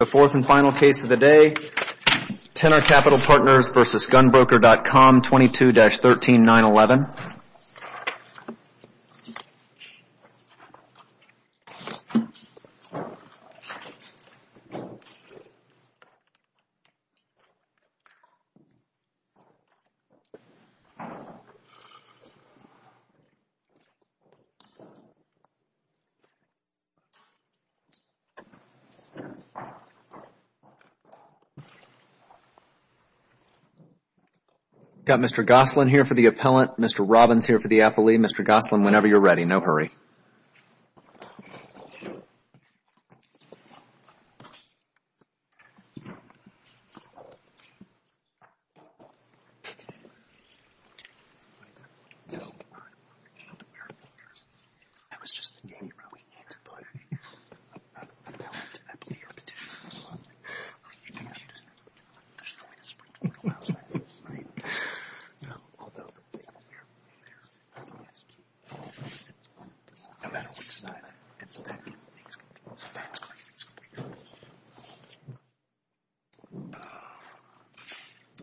The fourth and final case of the day, Tenor Capital Partners v. GunBroker.com, 22-13911. We've got Mr. Gosselin here for the appellant, Mr. Robbins here for the appellee. Mr. Gosselin, whenever you're ready. No hurry. I was just thinking about where we need to put an appellant, an appellee or petitioner. There's no way to sprinkle it on the outside, right? No. I'll do it over here. Here? Yes. Because it's one of the sides. No matter which side. And so that means the next one. That's crazy. It's crazy.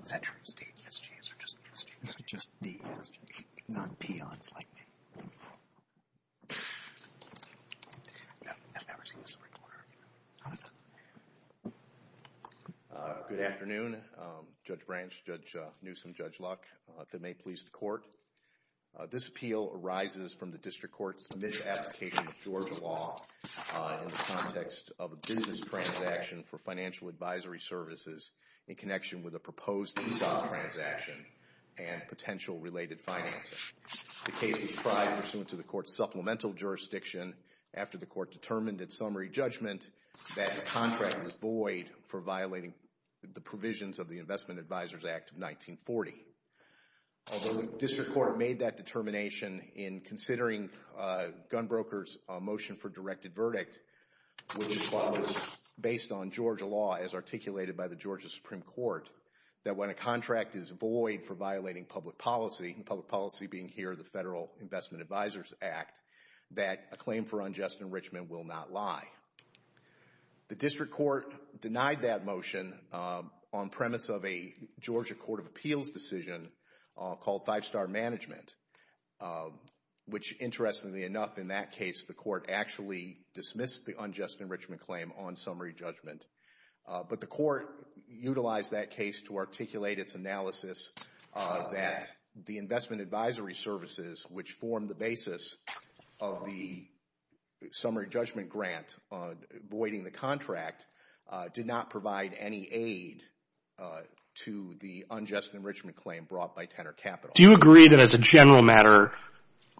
Is that true? It's the SG's or just the SG's? Just the SG's. Not peons like me. I've never seen a sprinkler. I don't know. Good afternoon. Judge Branch, Judge Newsom, Judge Luck, if it may please the court. This appeal arises from the district court's misapplication of Georgia law in the context of a business transaction for financial advisory services in connection with a proposed ESOP transaction and potential related financing. The case was tried pursuant to the court's supplemental jurisdiction. After the court determined in summary judgment that the contract was void for violating the provisions of the Investment Advisors Act of 1940. Although the district court made that determination in considering gunbrokers' motion for directed verdict, which was based on Georgia law as articulated by the Georgia Supreme Court, that when a contract is void for violating public policy, public policy being here the claim for unjust enrichment will not lie. The district court denied that motion on premise of a Georgia Court of Appeals decision called Five Star Management, which interestingly enough in that case the court actually dismissed the unjust enrichment claim on summary judgment. But the court utilized that case to articulate its analysis that the investment advisory services, which formed the basis of the summary judgment grant voiding the contract, did not provide any aid to the unjust enrichment claim brought by Tenor Capital. Do you agree that as a general matter,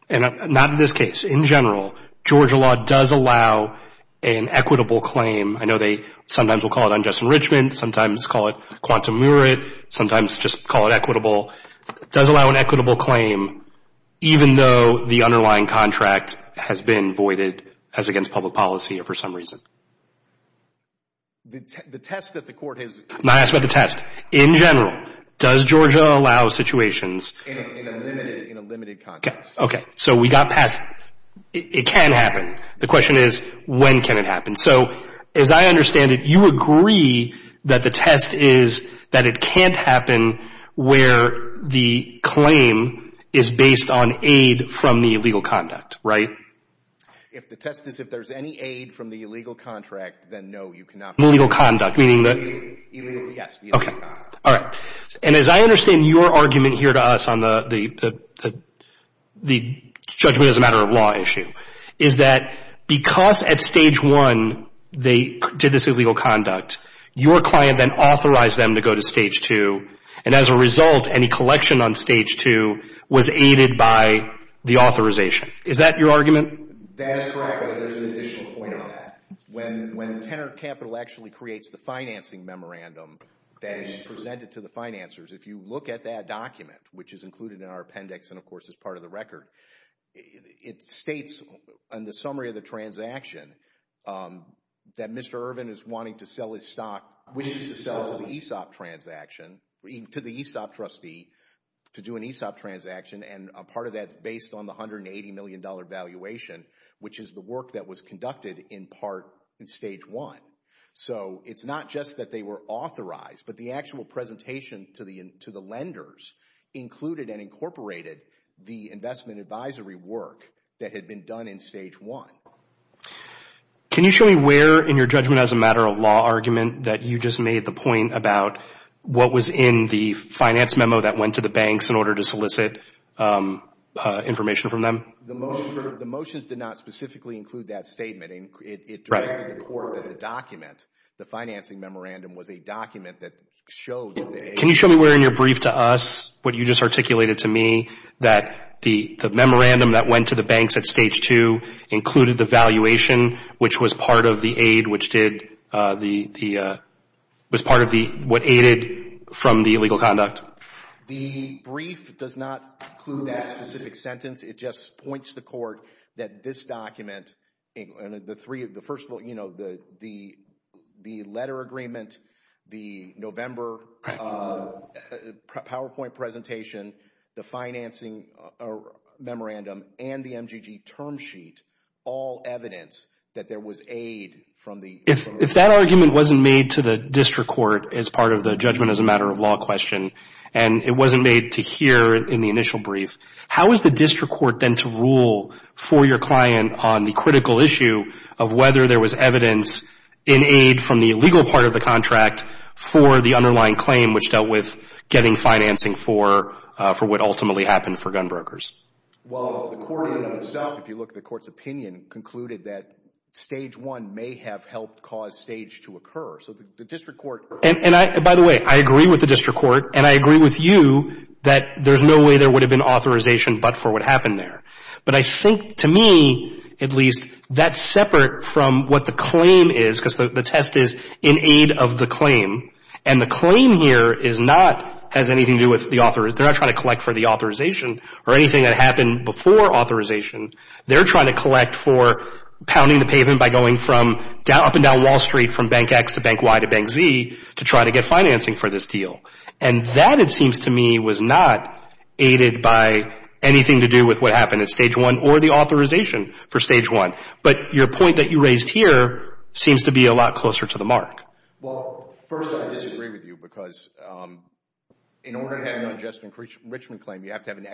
not in this case, in general, Georgia law does allow an equitable claim? I know they sometimes will call it unjust enrichment, sometimes call it quantum merit, sometimes just call it equitable. Does it allow an equitable claim even though the underlying contract has been voided as against public policy or for some reason? The test that the court has... I'm not asking about the test. In general, does Georgia allow situations... In a limited context. Okay. So we got past it. It can happen. The question is when can it happen? So as I understand it, you agree that the test is that it can't happen where the claim is based on aid from the illegal conduct, right? If the test is if there's any aid from the illegal contract, then no, you cannot... Illegal conduct, meaning that... Illegal, yes. Okay. All right. And as I understand your argument here to us on the judgment as a matter of law issue, is that because at Stage 1 they did this illegal conduct, your client then authorized them to go to Stage 2, and as a result, any collection on Stage 2 was aided by the authorization. Is that your argument? That is correct, but there's an additional point on that. When Tenor Capital actually creates the financing memorandum that is presented to the financiers, if you look at that document, which is included in our appendix and, of course, is part of the record, it states in the summary of the transaction that Mr. Irvin is wanting to sell his stock, which is to sell to the ESOP transaction, to the ESOP trustee to do an ESOP transaction, and a part of that is based on the $180 million valuation, which is the work that was conducted in part in Stage 1. So it's not just that they were authorized, but the actual presentation to the lenders included and incorporated the investment advisory work that had been done in Stage 1. Can you show me where in your judgment as a matter of law argument that you just made the point about what was in the finance memo that went to the banks in order to solicit information from them? The motions did not specifically include that statement. It directed the court that the document, the financing memorandum, was a document that showed that the agency Can you show me where in your brief to us, what you just articulated to me, that the memorandum that went to the banks at Stage 2 included the valuation, which was part of the aid, which was part of what aided from the illegal conduct? The brief does not include that specific sentence. It just points to the court that this document, the letter agreement, the November PowerPoint presentation, the financing memorandum, and the MGG term sheet, all evidence that there was aid from the… If that argument wasn't made to the district court as part of the judgment as a matter of law question, and it wasn't made to hear in the initial brief, how is the district court then to rule for your client on the critical issue of whether there was evidence in aid from the illegal part of the contract for the underlying claim, which dealt with getting financing for what ultimately happened for gunbrokers? Well, the court in and of itself, if you look at the court's opinion, concluded that Stage 1 may have helped cause Stage to occur. So the district court… And by the way, I agree with the district court, and I agree with you, that there's no way there would have been authorization but for what happened there. But I think to me, at least, that's separate from what the claim is, because the test is in aid of the claim. And the claim here is not, has anything to do with the author. They're not trying to collect for the authorization or anything that happened before authorization. They're trying to collect for pounding the pavement by going from up and down Wall Street, from Bank X to Bank Y to Bank Z, to try to get financing for this deal. And that, it seems to me, was not aided by anything to do with what happened at Stage 1 or the authorization for Stage 1. But your point that you raised here seems to be a lot closer to the mark. Well, first, I disagree with you, because in order to have an unjust enrichment claim, you have to have an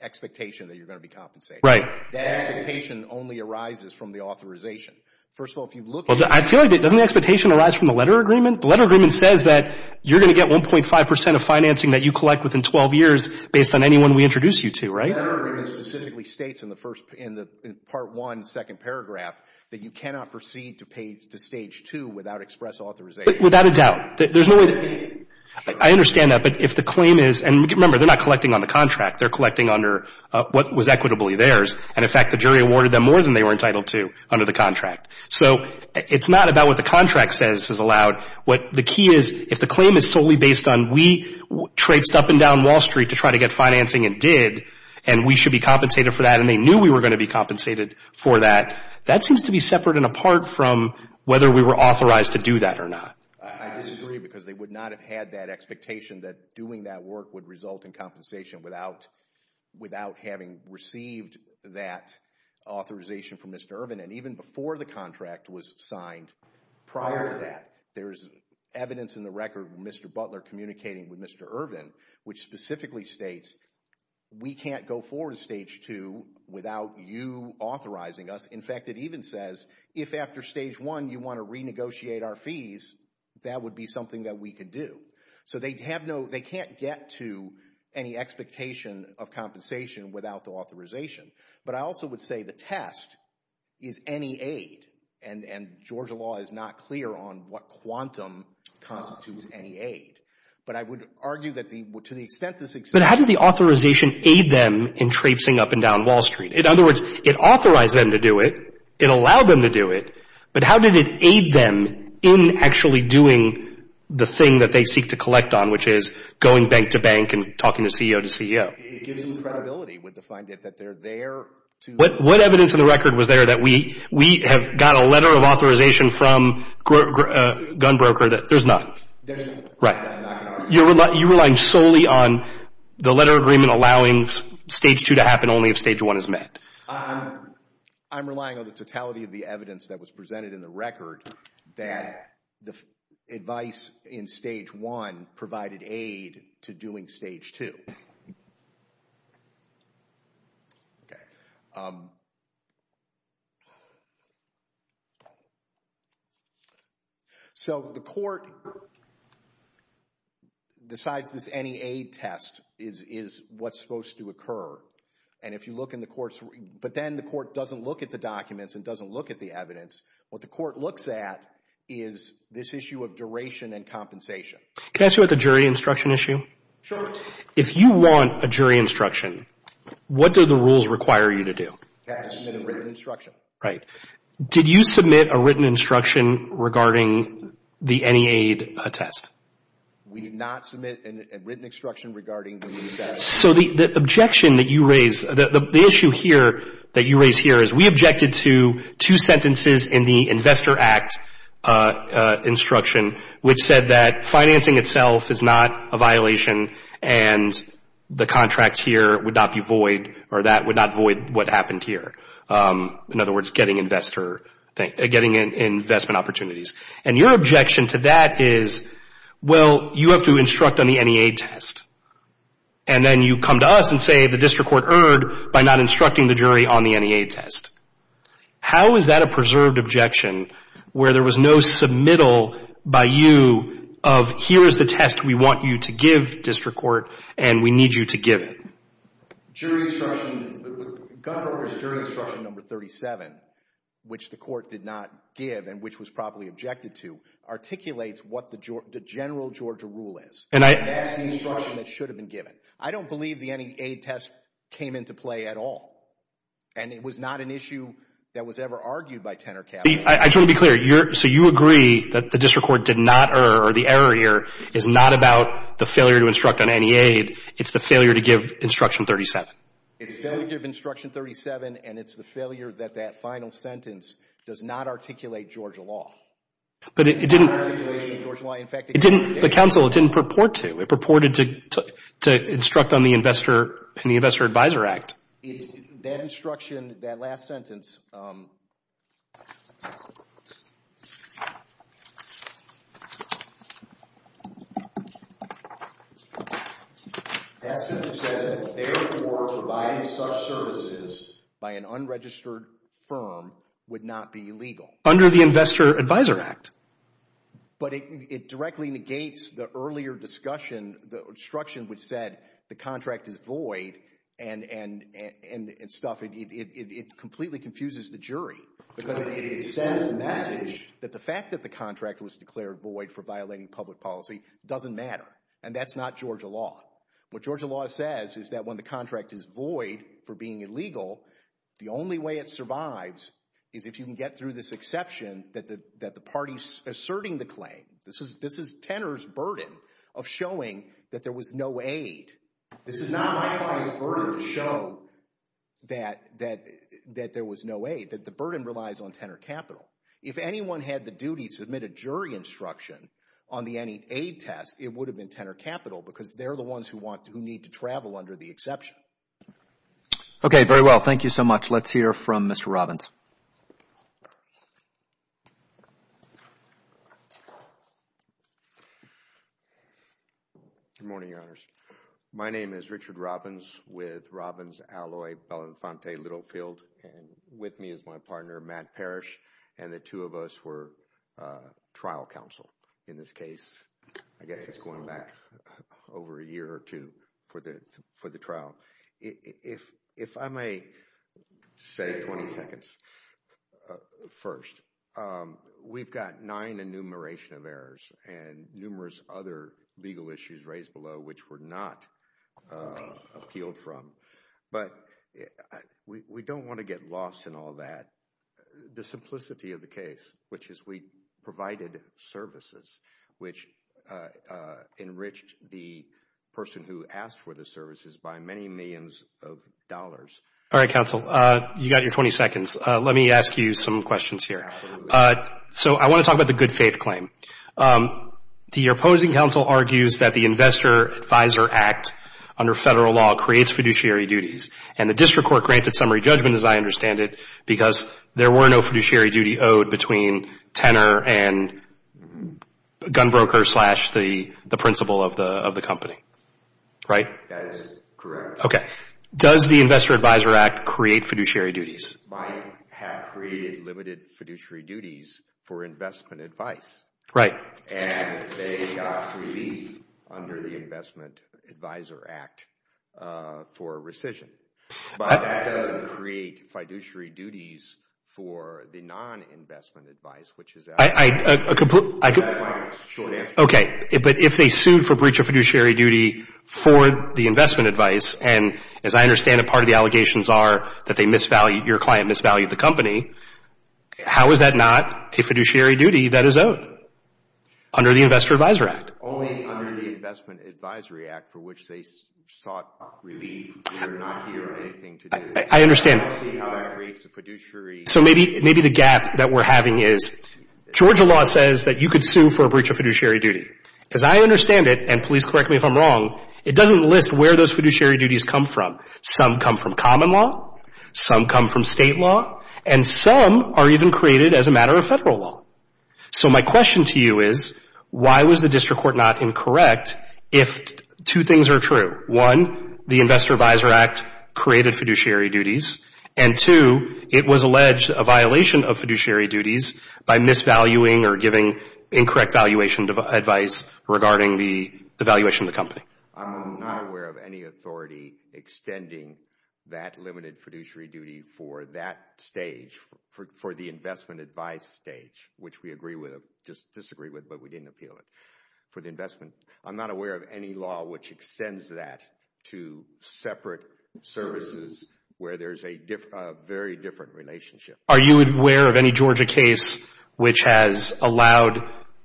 expectation that you're going to be compensated. Right. That expectation only arises from the authorization. First of all, if you look at it. Well, I feel like, doesn't the expectation arise from the letter agreement? The letter agreement says that you're going to get 1.5 percent of financing that you collect within 12 years, based on anyone we introduce you to, right? The letter agreement specifically states in the first, in the Part 1, second paragraph, that you cannot proceed to Stage 2 without express authorization. Without a doubt. There's no way. I understand that. But if the claim is, and remember, they're not collecting on the contract. They're collecting under what was equitably theirs. And, in fact, the jury awarded them more than they were entitled to under the contract. So it's not about what the contract says is allowed. What the key is, if the claim is solely based on we traipsed up and down Wall Street to try to get financing and did, and we should be compensated for that, and they knew we were going to be compensated for that, that seems to be separate and apart from whether we were authorized to do that or not. I disagree, because they would not have had that expectation that doing that work would result in compensation without having received that authorization from Mr. Irvin. And even before the contract was signed, prior to that, there's evidence in the record of Mr. Butler communicating with Mr. Irvin, which specifically states we can't go forward to Stage 2 without you authorizing us. In fact, it even says if after Stage 1 you want to renegotiate our fees, that would be something that we could do. So they have no, they can't get to any expectation of compensation without the authorization. But I also would say the test is any aid, and Georgia law is not clear on what quantum constitutes any aid. But I would argue that to the extent this exists. But how did the authorization aid them in traipsing up and down Wall Street? In other words, it authorized them to do it, it allowed them to do it, but how did it aid them in actually doing the thing that they seek to collect on, which is going bank to bank and talking to CEO to CEO? It gives them credibility with the find that they're there to. What evidence in the record was there that we have got a letter of authorization from a gun broker that there's none? There's none. Right. You're relying solely on the letter agreement allowing Stage 2 to happen only if Stage 1 is met. I'm relying on the totality of the evidence that was presented in the record that the advice in Stage 1 provided aid to doing Stage 2. So the court decides this any aid test is what's supposed to occur. But then the court doesn't look at the documents and doesn't look at the evidence. What the court looks at is this issue of duration and compensation. Can I ask you about the jury instruction issue? Sure. If you want a jury instruction, what do the rules require you to do? Submit a written instruction. Right. Did you submit a written instruction regarding the any aid test? We did not submit a written instruction regarding the test. So the objection that you raise, the issue here that you raise here is we objected to two sentences in the Investor Act instruction which said that financing itself is not a violation and the contract here would not be void or that would not void what happened here. In other words, getting investment opportunities. And your objection to that is, well, you have to instruct on the any aid test. And then you come to us and say the district court erred by not instructing the jury on the any aid test. How is that a preserved objection where there was no submittal by you of here is the test we want you to give district court and we need you to give it? Jury instruction number 37, which the court did not give and which was probably objected to, articulates what the general Georgia rule is. And that's the instruction that should have been given. I don't believe the any aid test came into play at all. And it was not an issue that was ever argued by Tenor Capital. I just want to be clear. So you agree that the district court did not err or the error here is not about the failure to instruct on any aid. It's the failure to give instruction 37. It's failure to give instruction 37, and it's the failure that that final sentence does not articulate Georgia law. But it didn't. It's not an articulation of Georgia law. In fact, it didn't. The counsel, it didn't purport to. It purported to instruct on the Investor and the Investor Advisor Act. That instruction, that last sentence, that sentence says that therefore providing such services by an unregistered firm would not be legal. Under the Investor Advisor Act. But it directly negates the earlier discussion, the instruction which said the contract is void and stuff, it completely confuses the jury. Because it sends the message that the fact that the contract was declared void for violating public policy doesn't matter. And that's not Georgia law. What Georgia law says is that when the contract is void for being illegal, the only way it survives is if you can get through this exception that the party's asserting the claim. This is Tenor's burden of showing that there was no aid. This is not my client's burden to show that there was no aid. That the burden relies on Tenor Capital. If anyone had the duty to submit a jury instruction on the any aid test, it would have been Tenor Capital because they're the ones who need to travel under the exception. Okay, very well. Thank you so much. Let's hear from Mr. Robbins. Good morning, Your Honors. My name is Richard Robbins with Robbins Alloy Belafonte Littlefield. And with me is my partner, Matt Parrish. And the two of us were trial counsel in this case. I guess it's going back over a year or two for the trial. If I may say 20 seconds first, we've got nine enumeration of errors and numerous other legal issues raised below which were not appealed from. But we don't want to get lost in all that. The simplicity of the case, which is we provided services, which enriched the person who asked for the services by many millions of dollars. All right, counsel. You got your 20 seconds. Let me ask you some questions here. So I want to talk about the good faith claim. The opposing counsel argues that the Investor Advisor Act under federal law creates fiduciary duties. And the district court granted summary judgment, as I understand it, because there were no fiduciary duty owed between tenor and gun broker slash the principal of the company, right? That is correct. Okay. Does the Investor Advisor Act create fiduciary duties? Might have created limited fiduciary duties for investment advice. Right. And they got relief under the Investment Advisor Act for rescission. But that doesn't create fiduciary duties for the non-investment advice, which is out. That's my short answer. Okay. But if they sued for breach of fiduciary duty for the investment advice, and as I understand it, part of the allegations are that they misvalued, your client misvalued the company, how is that not a fiduciary duty that is owed under the Investor Advisor Act? It's only under the Investment Advisory Act for which they sought relief. They're not here or anything to do it. I understand. So maybe the gap that we're having is Georgia law says that you could sue for a breach of fiduciary duty. As I understand it, and please correct me if I'm wrong, it doesn't list where those fiduciary duties come from. Some come from common law. Some come from state law. And some are even created as a matter of federal law. So my question to you is, why was the district court not incorrect if two things are true? One, the Investor Advisor Act created fiduciary duties, and two, it was alleged a violation of fiduciary duties by misvaluing or giving incorrect valuation advice regarding the valuation of the company. I'm not aware of any authority extending that limited fiduciary duty for that stage, for the investment advice stage, which we agree with or disagree with, but we didn't appeal it. For the investment, I'm not aware of any law which extends that to separate services where there's a very different relationship. Are you aware of any Georgia case which has allowed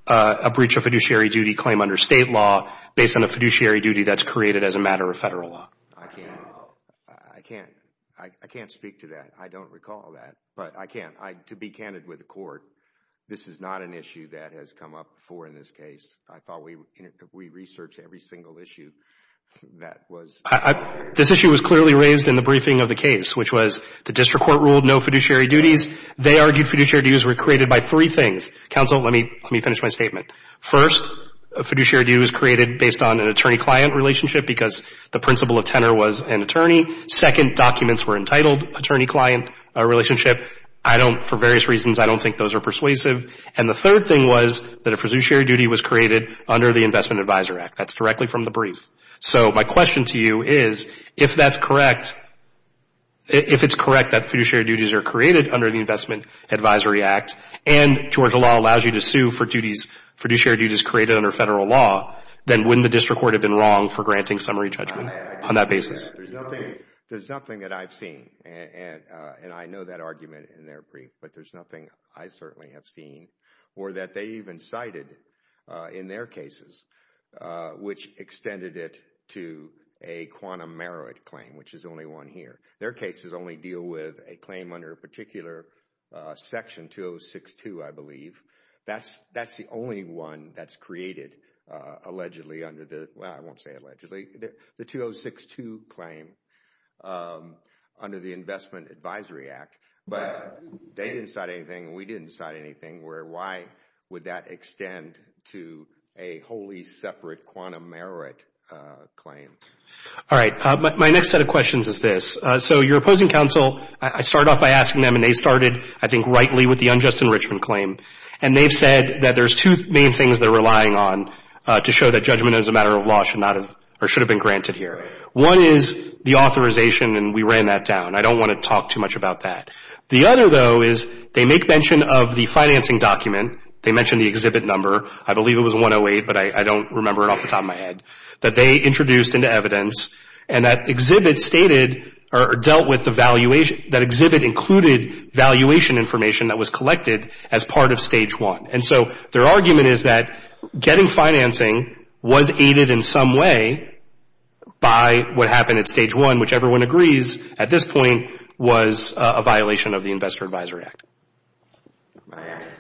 a breach of fiduciary duty claim under state law based on a fiduciary duty that's created as a matter of federal law? I can't speak to that. I don't recall that, but I can. To be candid with the court, this is not an issue that has come up before in this case. I thought we researched every single issue that was— This issue was clearly raised in the briefing of the case, which was the district court ruled no fiduciary duties. They argued fiduciary duties were created by three things. Counsel, let me finish my statement. First, a fiduciary duty was created based on an attorney-client relationship because the principle of tenor was an attorney. Second, documents were entitled attorney-client relationship. For various reasons, I don't think those are persuasive. And the third thing was that a fiduciary duty was created under the Investment Advisory Act. That's directly from the brief. So my question to you is if that's correct, if it's correct that fiduciary duties are created under the Investment Advisory Act and Georgia law allows you to sue for fiduciary duties created under federal law, then wouldn't the district court have been wrong for granting summary judgment on that basis? There's nothing that I've seen, and I know that argument in their brief, but there's nothing I certainly have seen or that they even cited in their cases which extended it to a quantum meroid claim, which is the only one here. Their cases only deal with a claim under a particular section, 2062, I believe. That's the only one that's created allegedly under the—well, I won't say allegedly. The 2062 claim under the Investment Advisory Act. But they didn't cite anything, and we didn't cite anything. Why would that extend to a wholly separate quantum meroid claim? All right. My next set of questions is this. So your opposing counsel, I started off by asking them, and they started, I think, rightly with the unjust enrichment claim. And they've said that there's two main things they're relying on to show that judgment as a matter of law should not have or should have been granted here. One is the authorization, and we ran that down. I don't want to talk too much about that. The other, though, is they make mention of the financing document. They mention the exhibit number. I believe it was 108, but I don't remember it off the top of my head, that they introduced into evidence and that exhibit stated or dealt with the valuation— that exhibit included valuation information that was collected as part of Stage 1. And so their argument is that getting financing was aided in some way by what happened at Stage 1, which everyone agrees at this point was a violation of the Investor Advisory Act. My answer to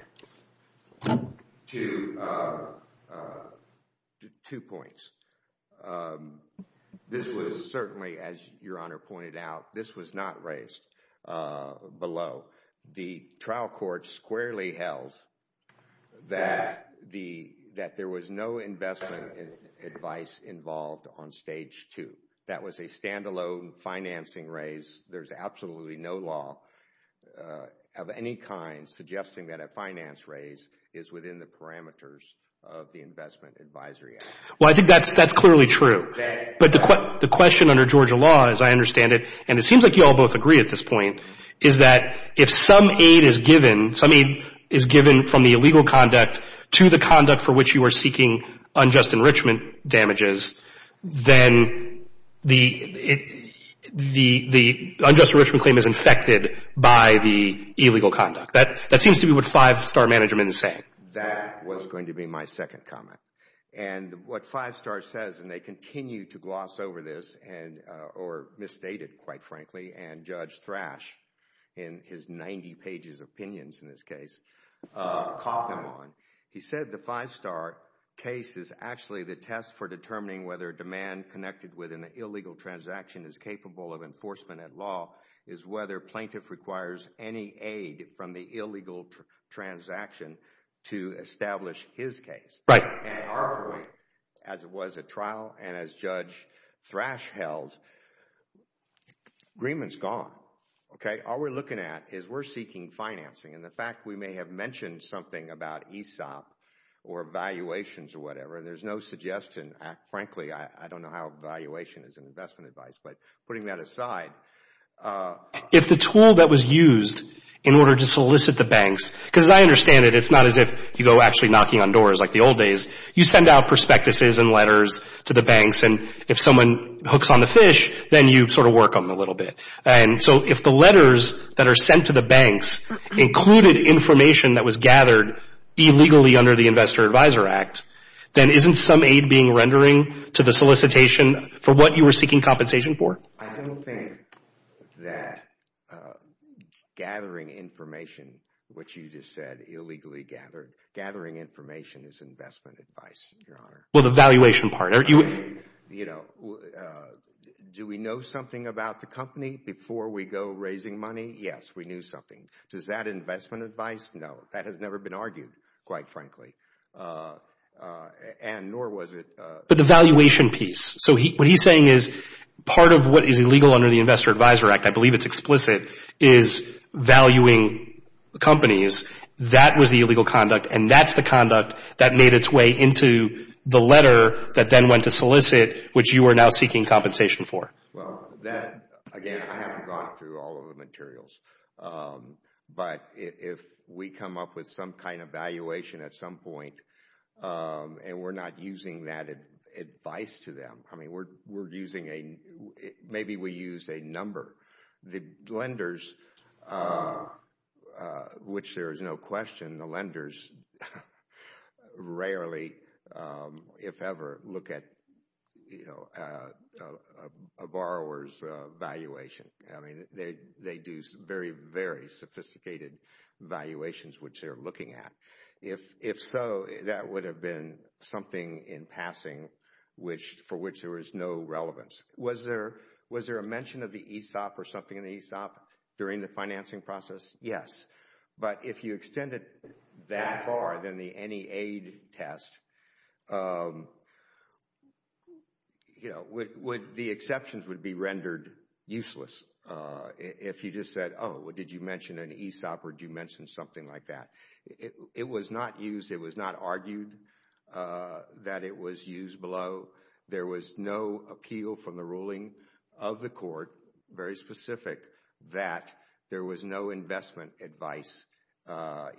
two points. This was certainly, as Your Honor pointed out, this was not raised below. The trial court squarely held that there was no investment advice involved on Stage 2. That was a stand-alone financing raise. There's absolutely no law of any kind suggesting that a finance raise is within the parameters of the Investment Advisory Act. Well, I think that's clearly true. But the question under Georgia law, as I understand it, and it seems like you all both agree at this point, is that if some aid is given, some aid is given from the illegal conduct to the conduct for which you are seeking unjust enrichment damages, then the unjust enrichment claim is infected by the illegal conduct. That seems to be what Five Star Management is saying. That was going to be my second comment. What Five Star says, and they continue to gloss over this, or misstate it, quite frankly, and Judge Thrash, in his 90 pages of opinions in this case, caught them on. He said the Five Star case is actually the test for determining whether demand connected with an illegal transaction is capable of enforcement at law is whether plaintiff requires any aid from the illegal transaction to establish his case. Right. At our point, as it was at trial and as Judge Thrash held, agreement is gone. Okay? All we're looking at is we're seeking financing, and the fact we may have mentioned something about ESOP or valuations or whatever, and there's no suggestion. Frankly, I don't know how valuation is in investment advice, but putting that aside. If the tool that was used in order to solicit the banks, because as I understand it, it's not as if you go actually knocking on doors like the old days. You send out prospectuses and letters to the banks, and if someone hooks on the fish, then you sort of work on them a little bit. So if the letters that are sent to the banks included information that was gathered illegally under the Investor Advisor Act, then isn't some aid being rendering to the solicitation for what you were seeking compensation for? I don't think that gathering information, what you just said, illegally gathered, gathering information is investment advice, Your Honor. Well, the valuation part. You know, do we know something about the company before we go raising money? Yes, we knew something. Does that investment advice? No. That has never been argued, quite frankly, and nor was it— But the valuation piece. So what he's saying is part of what is illegal under the Investor Advisor Act, I believe it's explicit, is valuing companies. That was the illegal conduct, and that's the conduct that made its way into the letter that then went to solicit, which you are now seeking compensation for. Well, again, I haven't gone through all of the materials, but if we come up with some kind of valuation at some point and we're not using that advice to them, I mean, we're using a—maybe we use a number. The lenders, which there is no question, the lenders rarely, if ever, look at a borrower's valuation. I mean, they do very, very sophisticated valuations, which they're looking at. If so, that would have been something in passing for which there is no relevance. Was there a mention of the ESOP or something in the ESOP during the financing process? Yes. But if you extended that far than the NEA test, the exceptions would be rendered useless. If you just said, oh, did you mention an ESOP or did you mention something like that. It was not used. It was not argued that it was used below. There was no appeal from the ruling of the court, very specific, that there was no investment advice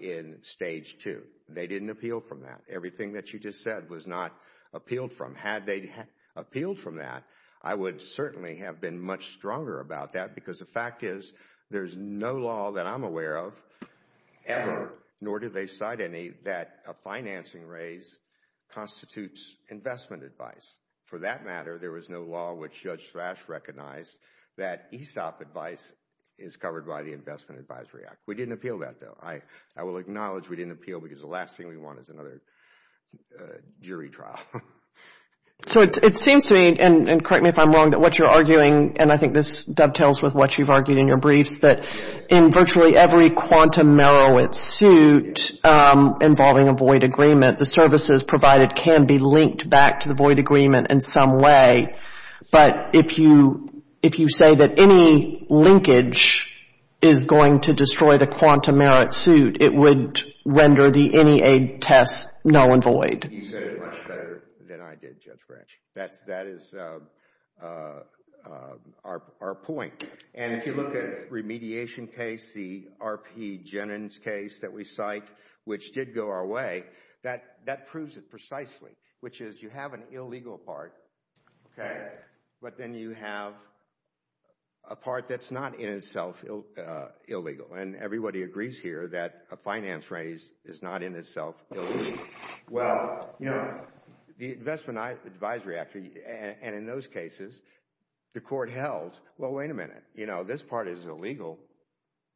in Stage 2. They didn't appeal from that. Everything that you just said was not appealed from. Had they appealed from that, I would certainly have been much stronger about that because the fact is there's no law that I'm aware of ever, nor did they cite any, that a financing raise constitutes investment advice. For that matter, there was no law which Judge Thrash recognized that ESOP advice is covered by the Investment Advisory Act. We didn't appeal that, though. I will acknowledge we didn't appeal because the last thing we want is another jury trial. It seems to me, and correct me if I'm wrong, that what you're arguing, and I think this dovetails with what you've argued in your briefs, that in virtually every quantum merit suit involving a void agreement, the services provided can be linked back to the void agreement in some way. But if you say that any linkage is going to destroy the quantum merit suit, it would render the NEA test null and void. You said it much better than I did, Judge Branch. That is our point. And if you look at remediation case, the RP Jennings case that we cite, which did go our way, that proves it precisely, which is you have an illegal part, okay, but then you have a part that's not in itself illegal. And everybody agrees here that a finance raise is not in itself illegal. Well, you know, the Investment Advisory Act, and in those cases, the court held, well, wait a minute, you know, this part is illegal,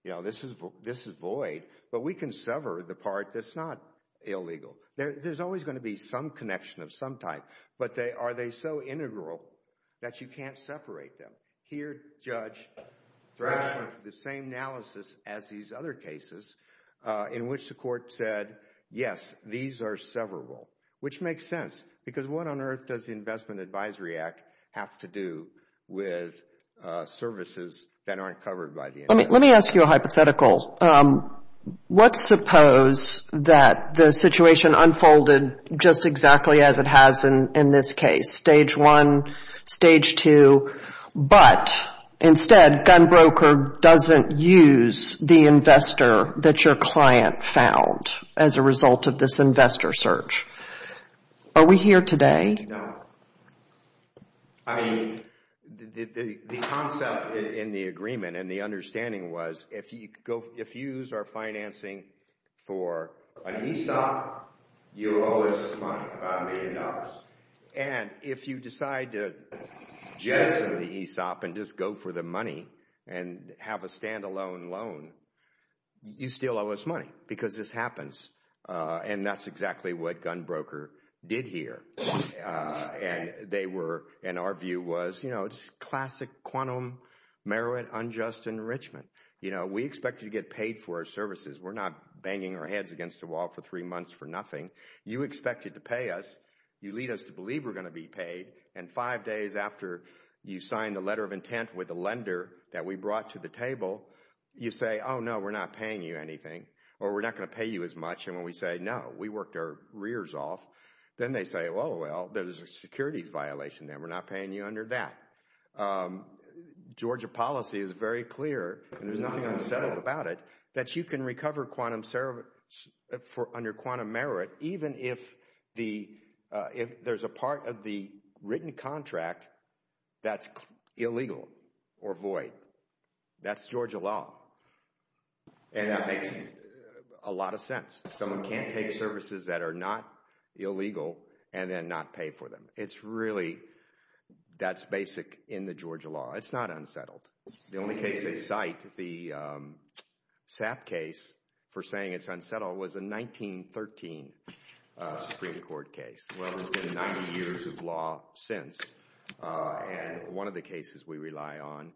you know, this is void, but we can sever the part that's not illegal. There's always going to be some connection of some type, but are they so integral that you can't separate them? Here, Judge Branch went through the same analysis as these other cases in which the court said, yes, these are severable, which makes sense, because what on earth does the Investment Advisory Act have to do with services that aren't covered by the investment? Let me ask you a hypothetical. Let's suppose that the situation unfolded just exactly as it has in this case, stage one, stage two, but instead, gun broker doesn't use the investor that your client found as a result of this investor search. Are we here today? No. I mean, the concept in the agreement and the understanding was if you use our financing for an ESOP, you owe us money, $5 million, and if you decide to jettison the ESOP and just go for the money and have a standalone loan, you still owe us money because this happens, and that's exactly what gun broker did here, and they were, and our view was, you know, we expect you to get paid for our services. We're not banging our heads against the wall for three months for nothing. You expect you to pay us. You lead us to believe we're going to be paid, and five days after you sign the letter of intent with the lender that we brought to the table, you say, oh, no, we're not paying you anything or we're not going to pay you as much, and when we say no, we worked our rears off. Then they say, well, well, there's a securities violation there. We're not paying you under that. Georgia policy is very clear, and there's nothing unsettling about it, that you can recover quantum service under quantum merit even if there's a part of the written contract that's illegal or void. That's Georgia law, and that makes a lot of sense. Someone can't take services that are not illegal and then not pay for them. It's really that's basic in the Georgia law. It's not unsettled. The only case they cite, the Sap case for saying it's unsettled, was a 1913 Supreme Court case. Well, it's been 90 years of law since, and one of the cases we rely on,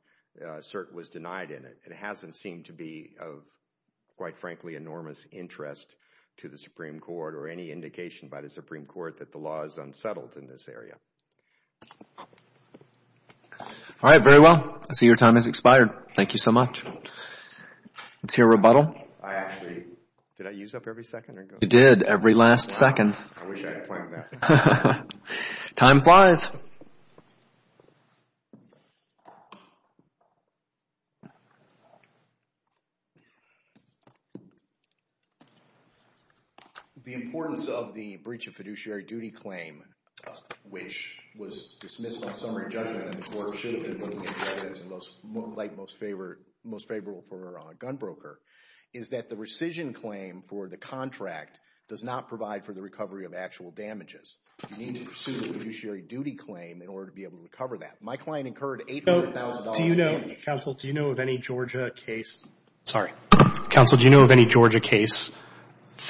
cert was denied in it. It hasn't seemed to be of, quite frankly, enormous interest to the Supreme Court or any indication by the Supreme Court that the law is unsettled in this area. All right, very well. I see your time has expired. Thank you so much. Let's hear a rebuttal. I actually, did I use up every second? You did, every last second. I wish I had planned that. Time flies. Thank you. The importance of the breach of fiduciary duty claim, which was dismissed on summary judgment and the court should have been looking at the evidence most favorable for a gun broker, is that the rescission claim for the contract does not provide for the recovery of actual damages. You need to pursue a fiduciary duty claim in order to be able to recover that. My client incurred $800,000 in damages. Counsel, do you know of any Georgia case? Sorry. Counsel, do you know of any Georgia case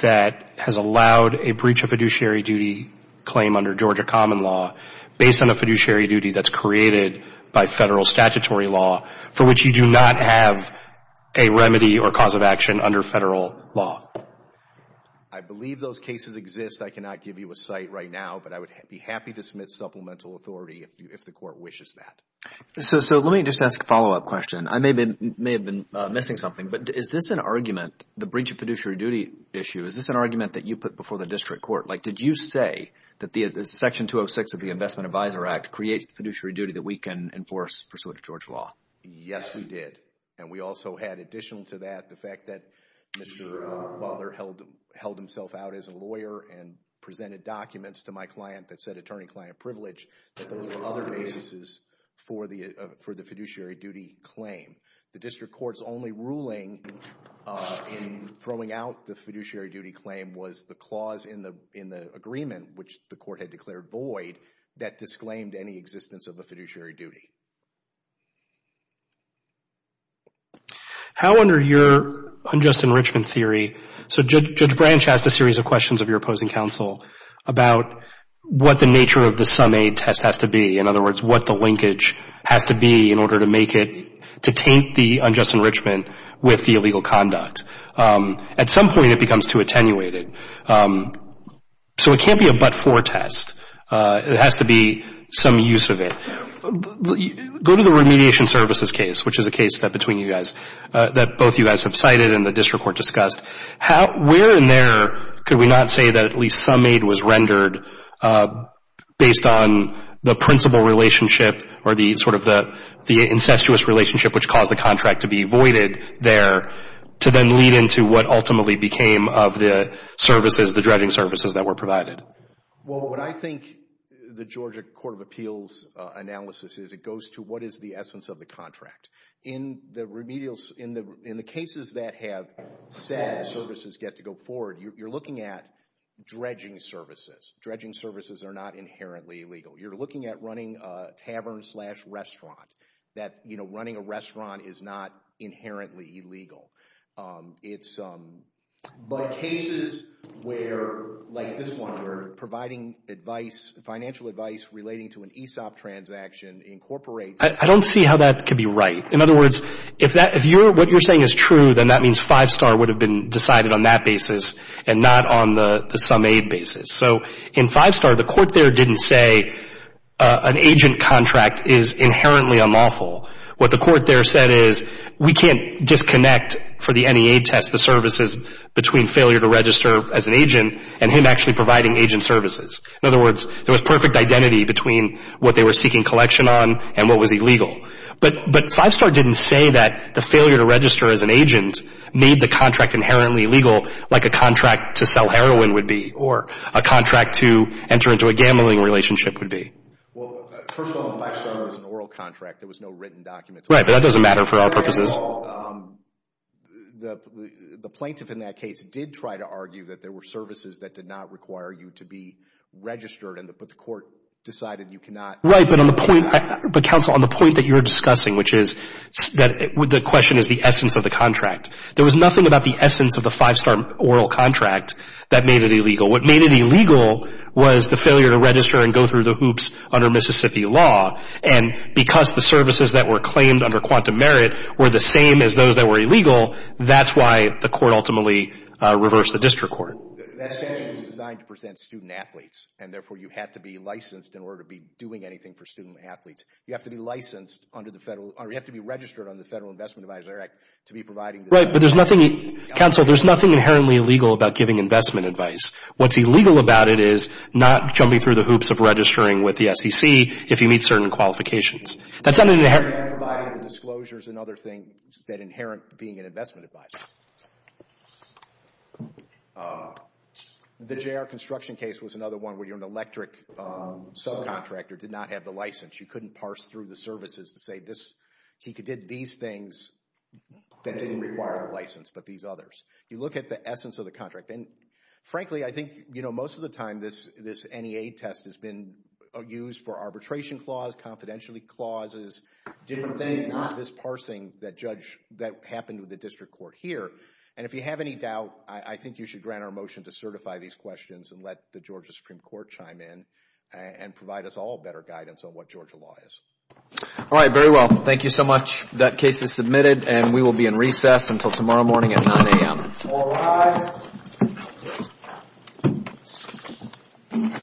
that has allowed a breach of fiduciary duty claim under Georgia common law based on a fiduciary duty that's created by Federal statutory law for which you do not have a remedy or cause of action under Federal law? I believe those cases exist. I cannot give you a site right now, but I would be happy to submit supplemental authority if the court wishes that. Let me just ask a follow-up question. I may have been missing something, but is this an argument, the breach of fiduciary duty issue, is this an argument that you put before the district court? Did you say that Section 206 of the Investment Advisor Act creates fiduciary duty that we can enforce pursuant to Georgia law? Yes, we did. And we also had, additional to that, the fact that Mr. Butler held himself out as a lawyer and presented documents to my client that said attorney-client privilege, that those were other bases for the fiduciary duty claim. The district court's only ruling in throwing out the fiduciary duty claim was the clause in the agreement, which the court had declared void, that disclaimed any existence of a fiduciary duty. How under your unjust enrichment theory, so Judge Branch asked a series of questions of your opposing counsel about what the nature of the SUNAID test has to be, in other words, what the linkage has to be in order to make it, to taint the unjust enrichment with the illegal conduct. At some point, it becomes too attenuated. So it can't be a but-for test. It has to be some use of it. Go to the remediation services case, which is a case that between you guys, that both you guys have cited and the district court discussed. Where in there could we not say that at least SUNAID was rendered based on the principal relationship or the sort of the incestuous relationship, which caused the contract to be voided there, to then lead into what ultimately became of the services, the dredging services that were provided? Well, what I think the Georgia Court of Appeals analysis is, it goes to what is the essence of the contract. In the cases that have said services get to go forward, you're looking at dredging services. Dredging services are not inherently illegal. You're looking at running a tavern slash restaurant, that running a restaurant is not inherently illegal. But cases where, like this one, where providing advice, financial advice, relating to an ESOP transaction incorporates. I don't see how that could be right. In other words, if what you're saying is true, then that means Five Star would have been decided on that basis and not on the SUNAID basis. So in Five Star, the court there didn't say an agent contract is inherently unlawful. What the court there said is, we can't disconnect for the NEA test, the services between failure to register as an agent and him actually providing agent services. In other words, there was perfect identity between what they were seeking collection on and what was illegal. But Five Star didn't say that the failure to register as an agent made the contract inherently illegal, like a contract to sell heroin would be, or a contract to enter into a gambling relationship would be. Well, first of all, Five Star was an oral contract. There was no written documents. Right, but that doesn't matter for our purposes. Second of all, the plaintiff in that case did try to argue that there were services that did not require you to be registered, but the court decided you cannot. Right, but counsel, on the point that you're discussing, which is that the question is the essence of the contract, there was nothing about the essence of the Five Star oral contract that made it illegal. What made it illegal was the failure to register and go through the hoops under Mississippi law. And because the services that were claimed under quantum merit were the same as those that were illegal, that's why the court ultimately reversed the district court. That statute was designed to present student-athletes, and therefore you had to be licensed in order to be doing anything for student-athletes. You have to be licensed under the federal— you have to be registered under the Federal Investment Advisory Act to be providing— Right, but there's nothing— counsel, there's nothing inherently illegal about giving investment advice. What's illegal about it is not jumping through the hoops of registering with the SEC if you meet certain qualifications. That's under the— Providing the disclosures and other things that inherent being an investment advisor. The J.R. Construction case was another one where you're an electric subcontractor, did not have the license. You couldn't parse through the services to say this— he did these things that didn't require a license, but these others. You look at the essence of the contract, and frankly, I think most of the time this NEA test has been used for arbitration clause, confidentiality clauses, different things, this parsing that happened with the district court here. And if you have any doubt, I think you should grant our motion to certify these questions and let the Georgia Supreme Court chime in and provide us all better guidance on what Georgia law is. All right, very well. Thank you so much. That case is submitted, and we will be in recess until tomorrow morning at 9 a.m. All rise. Thank you.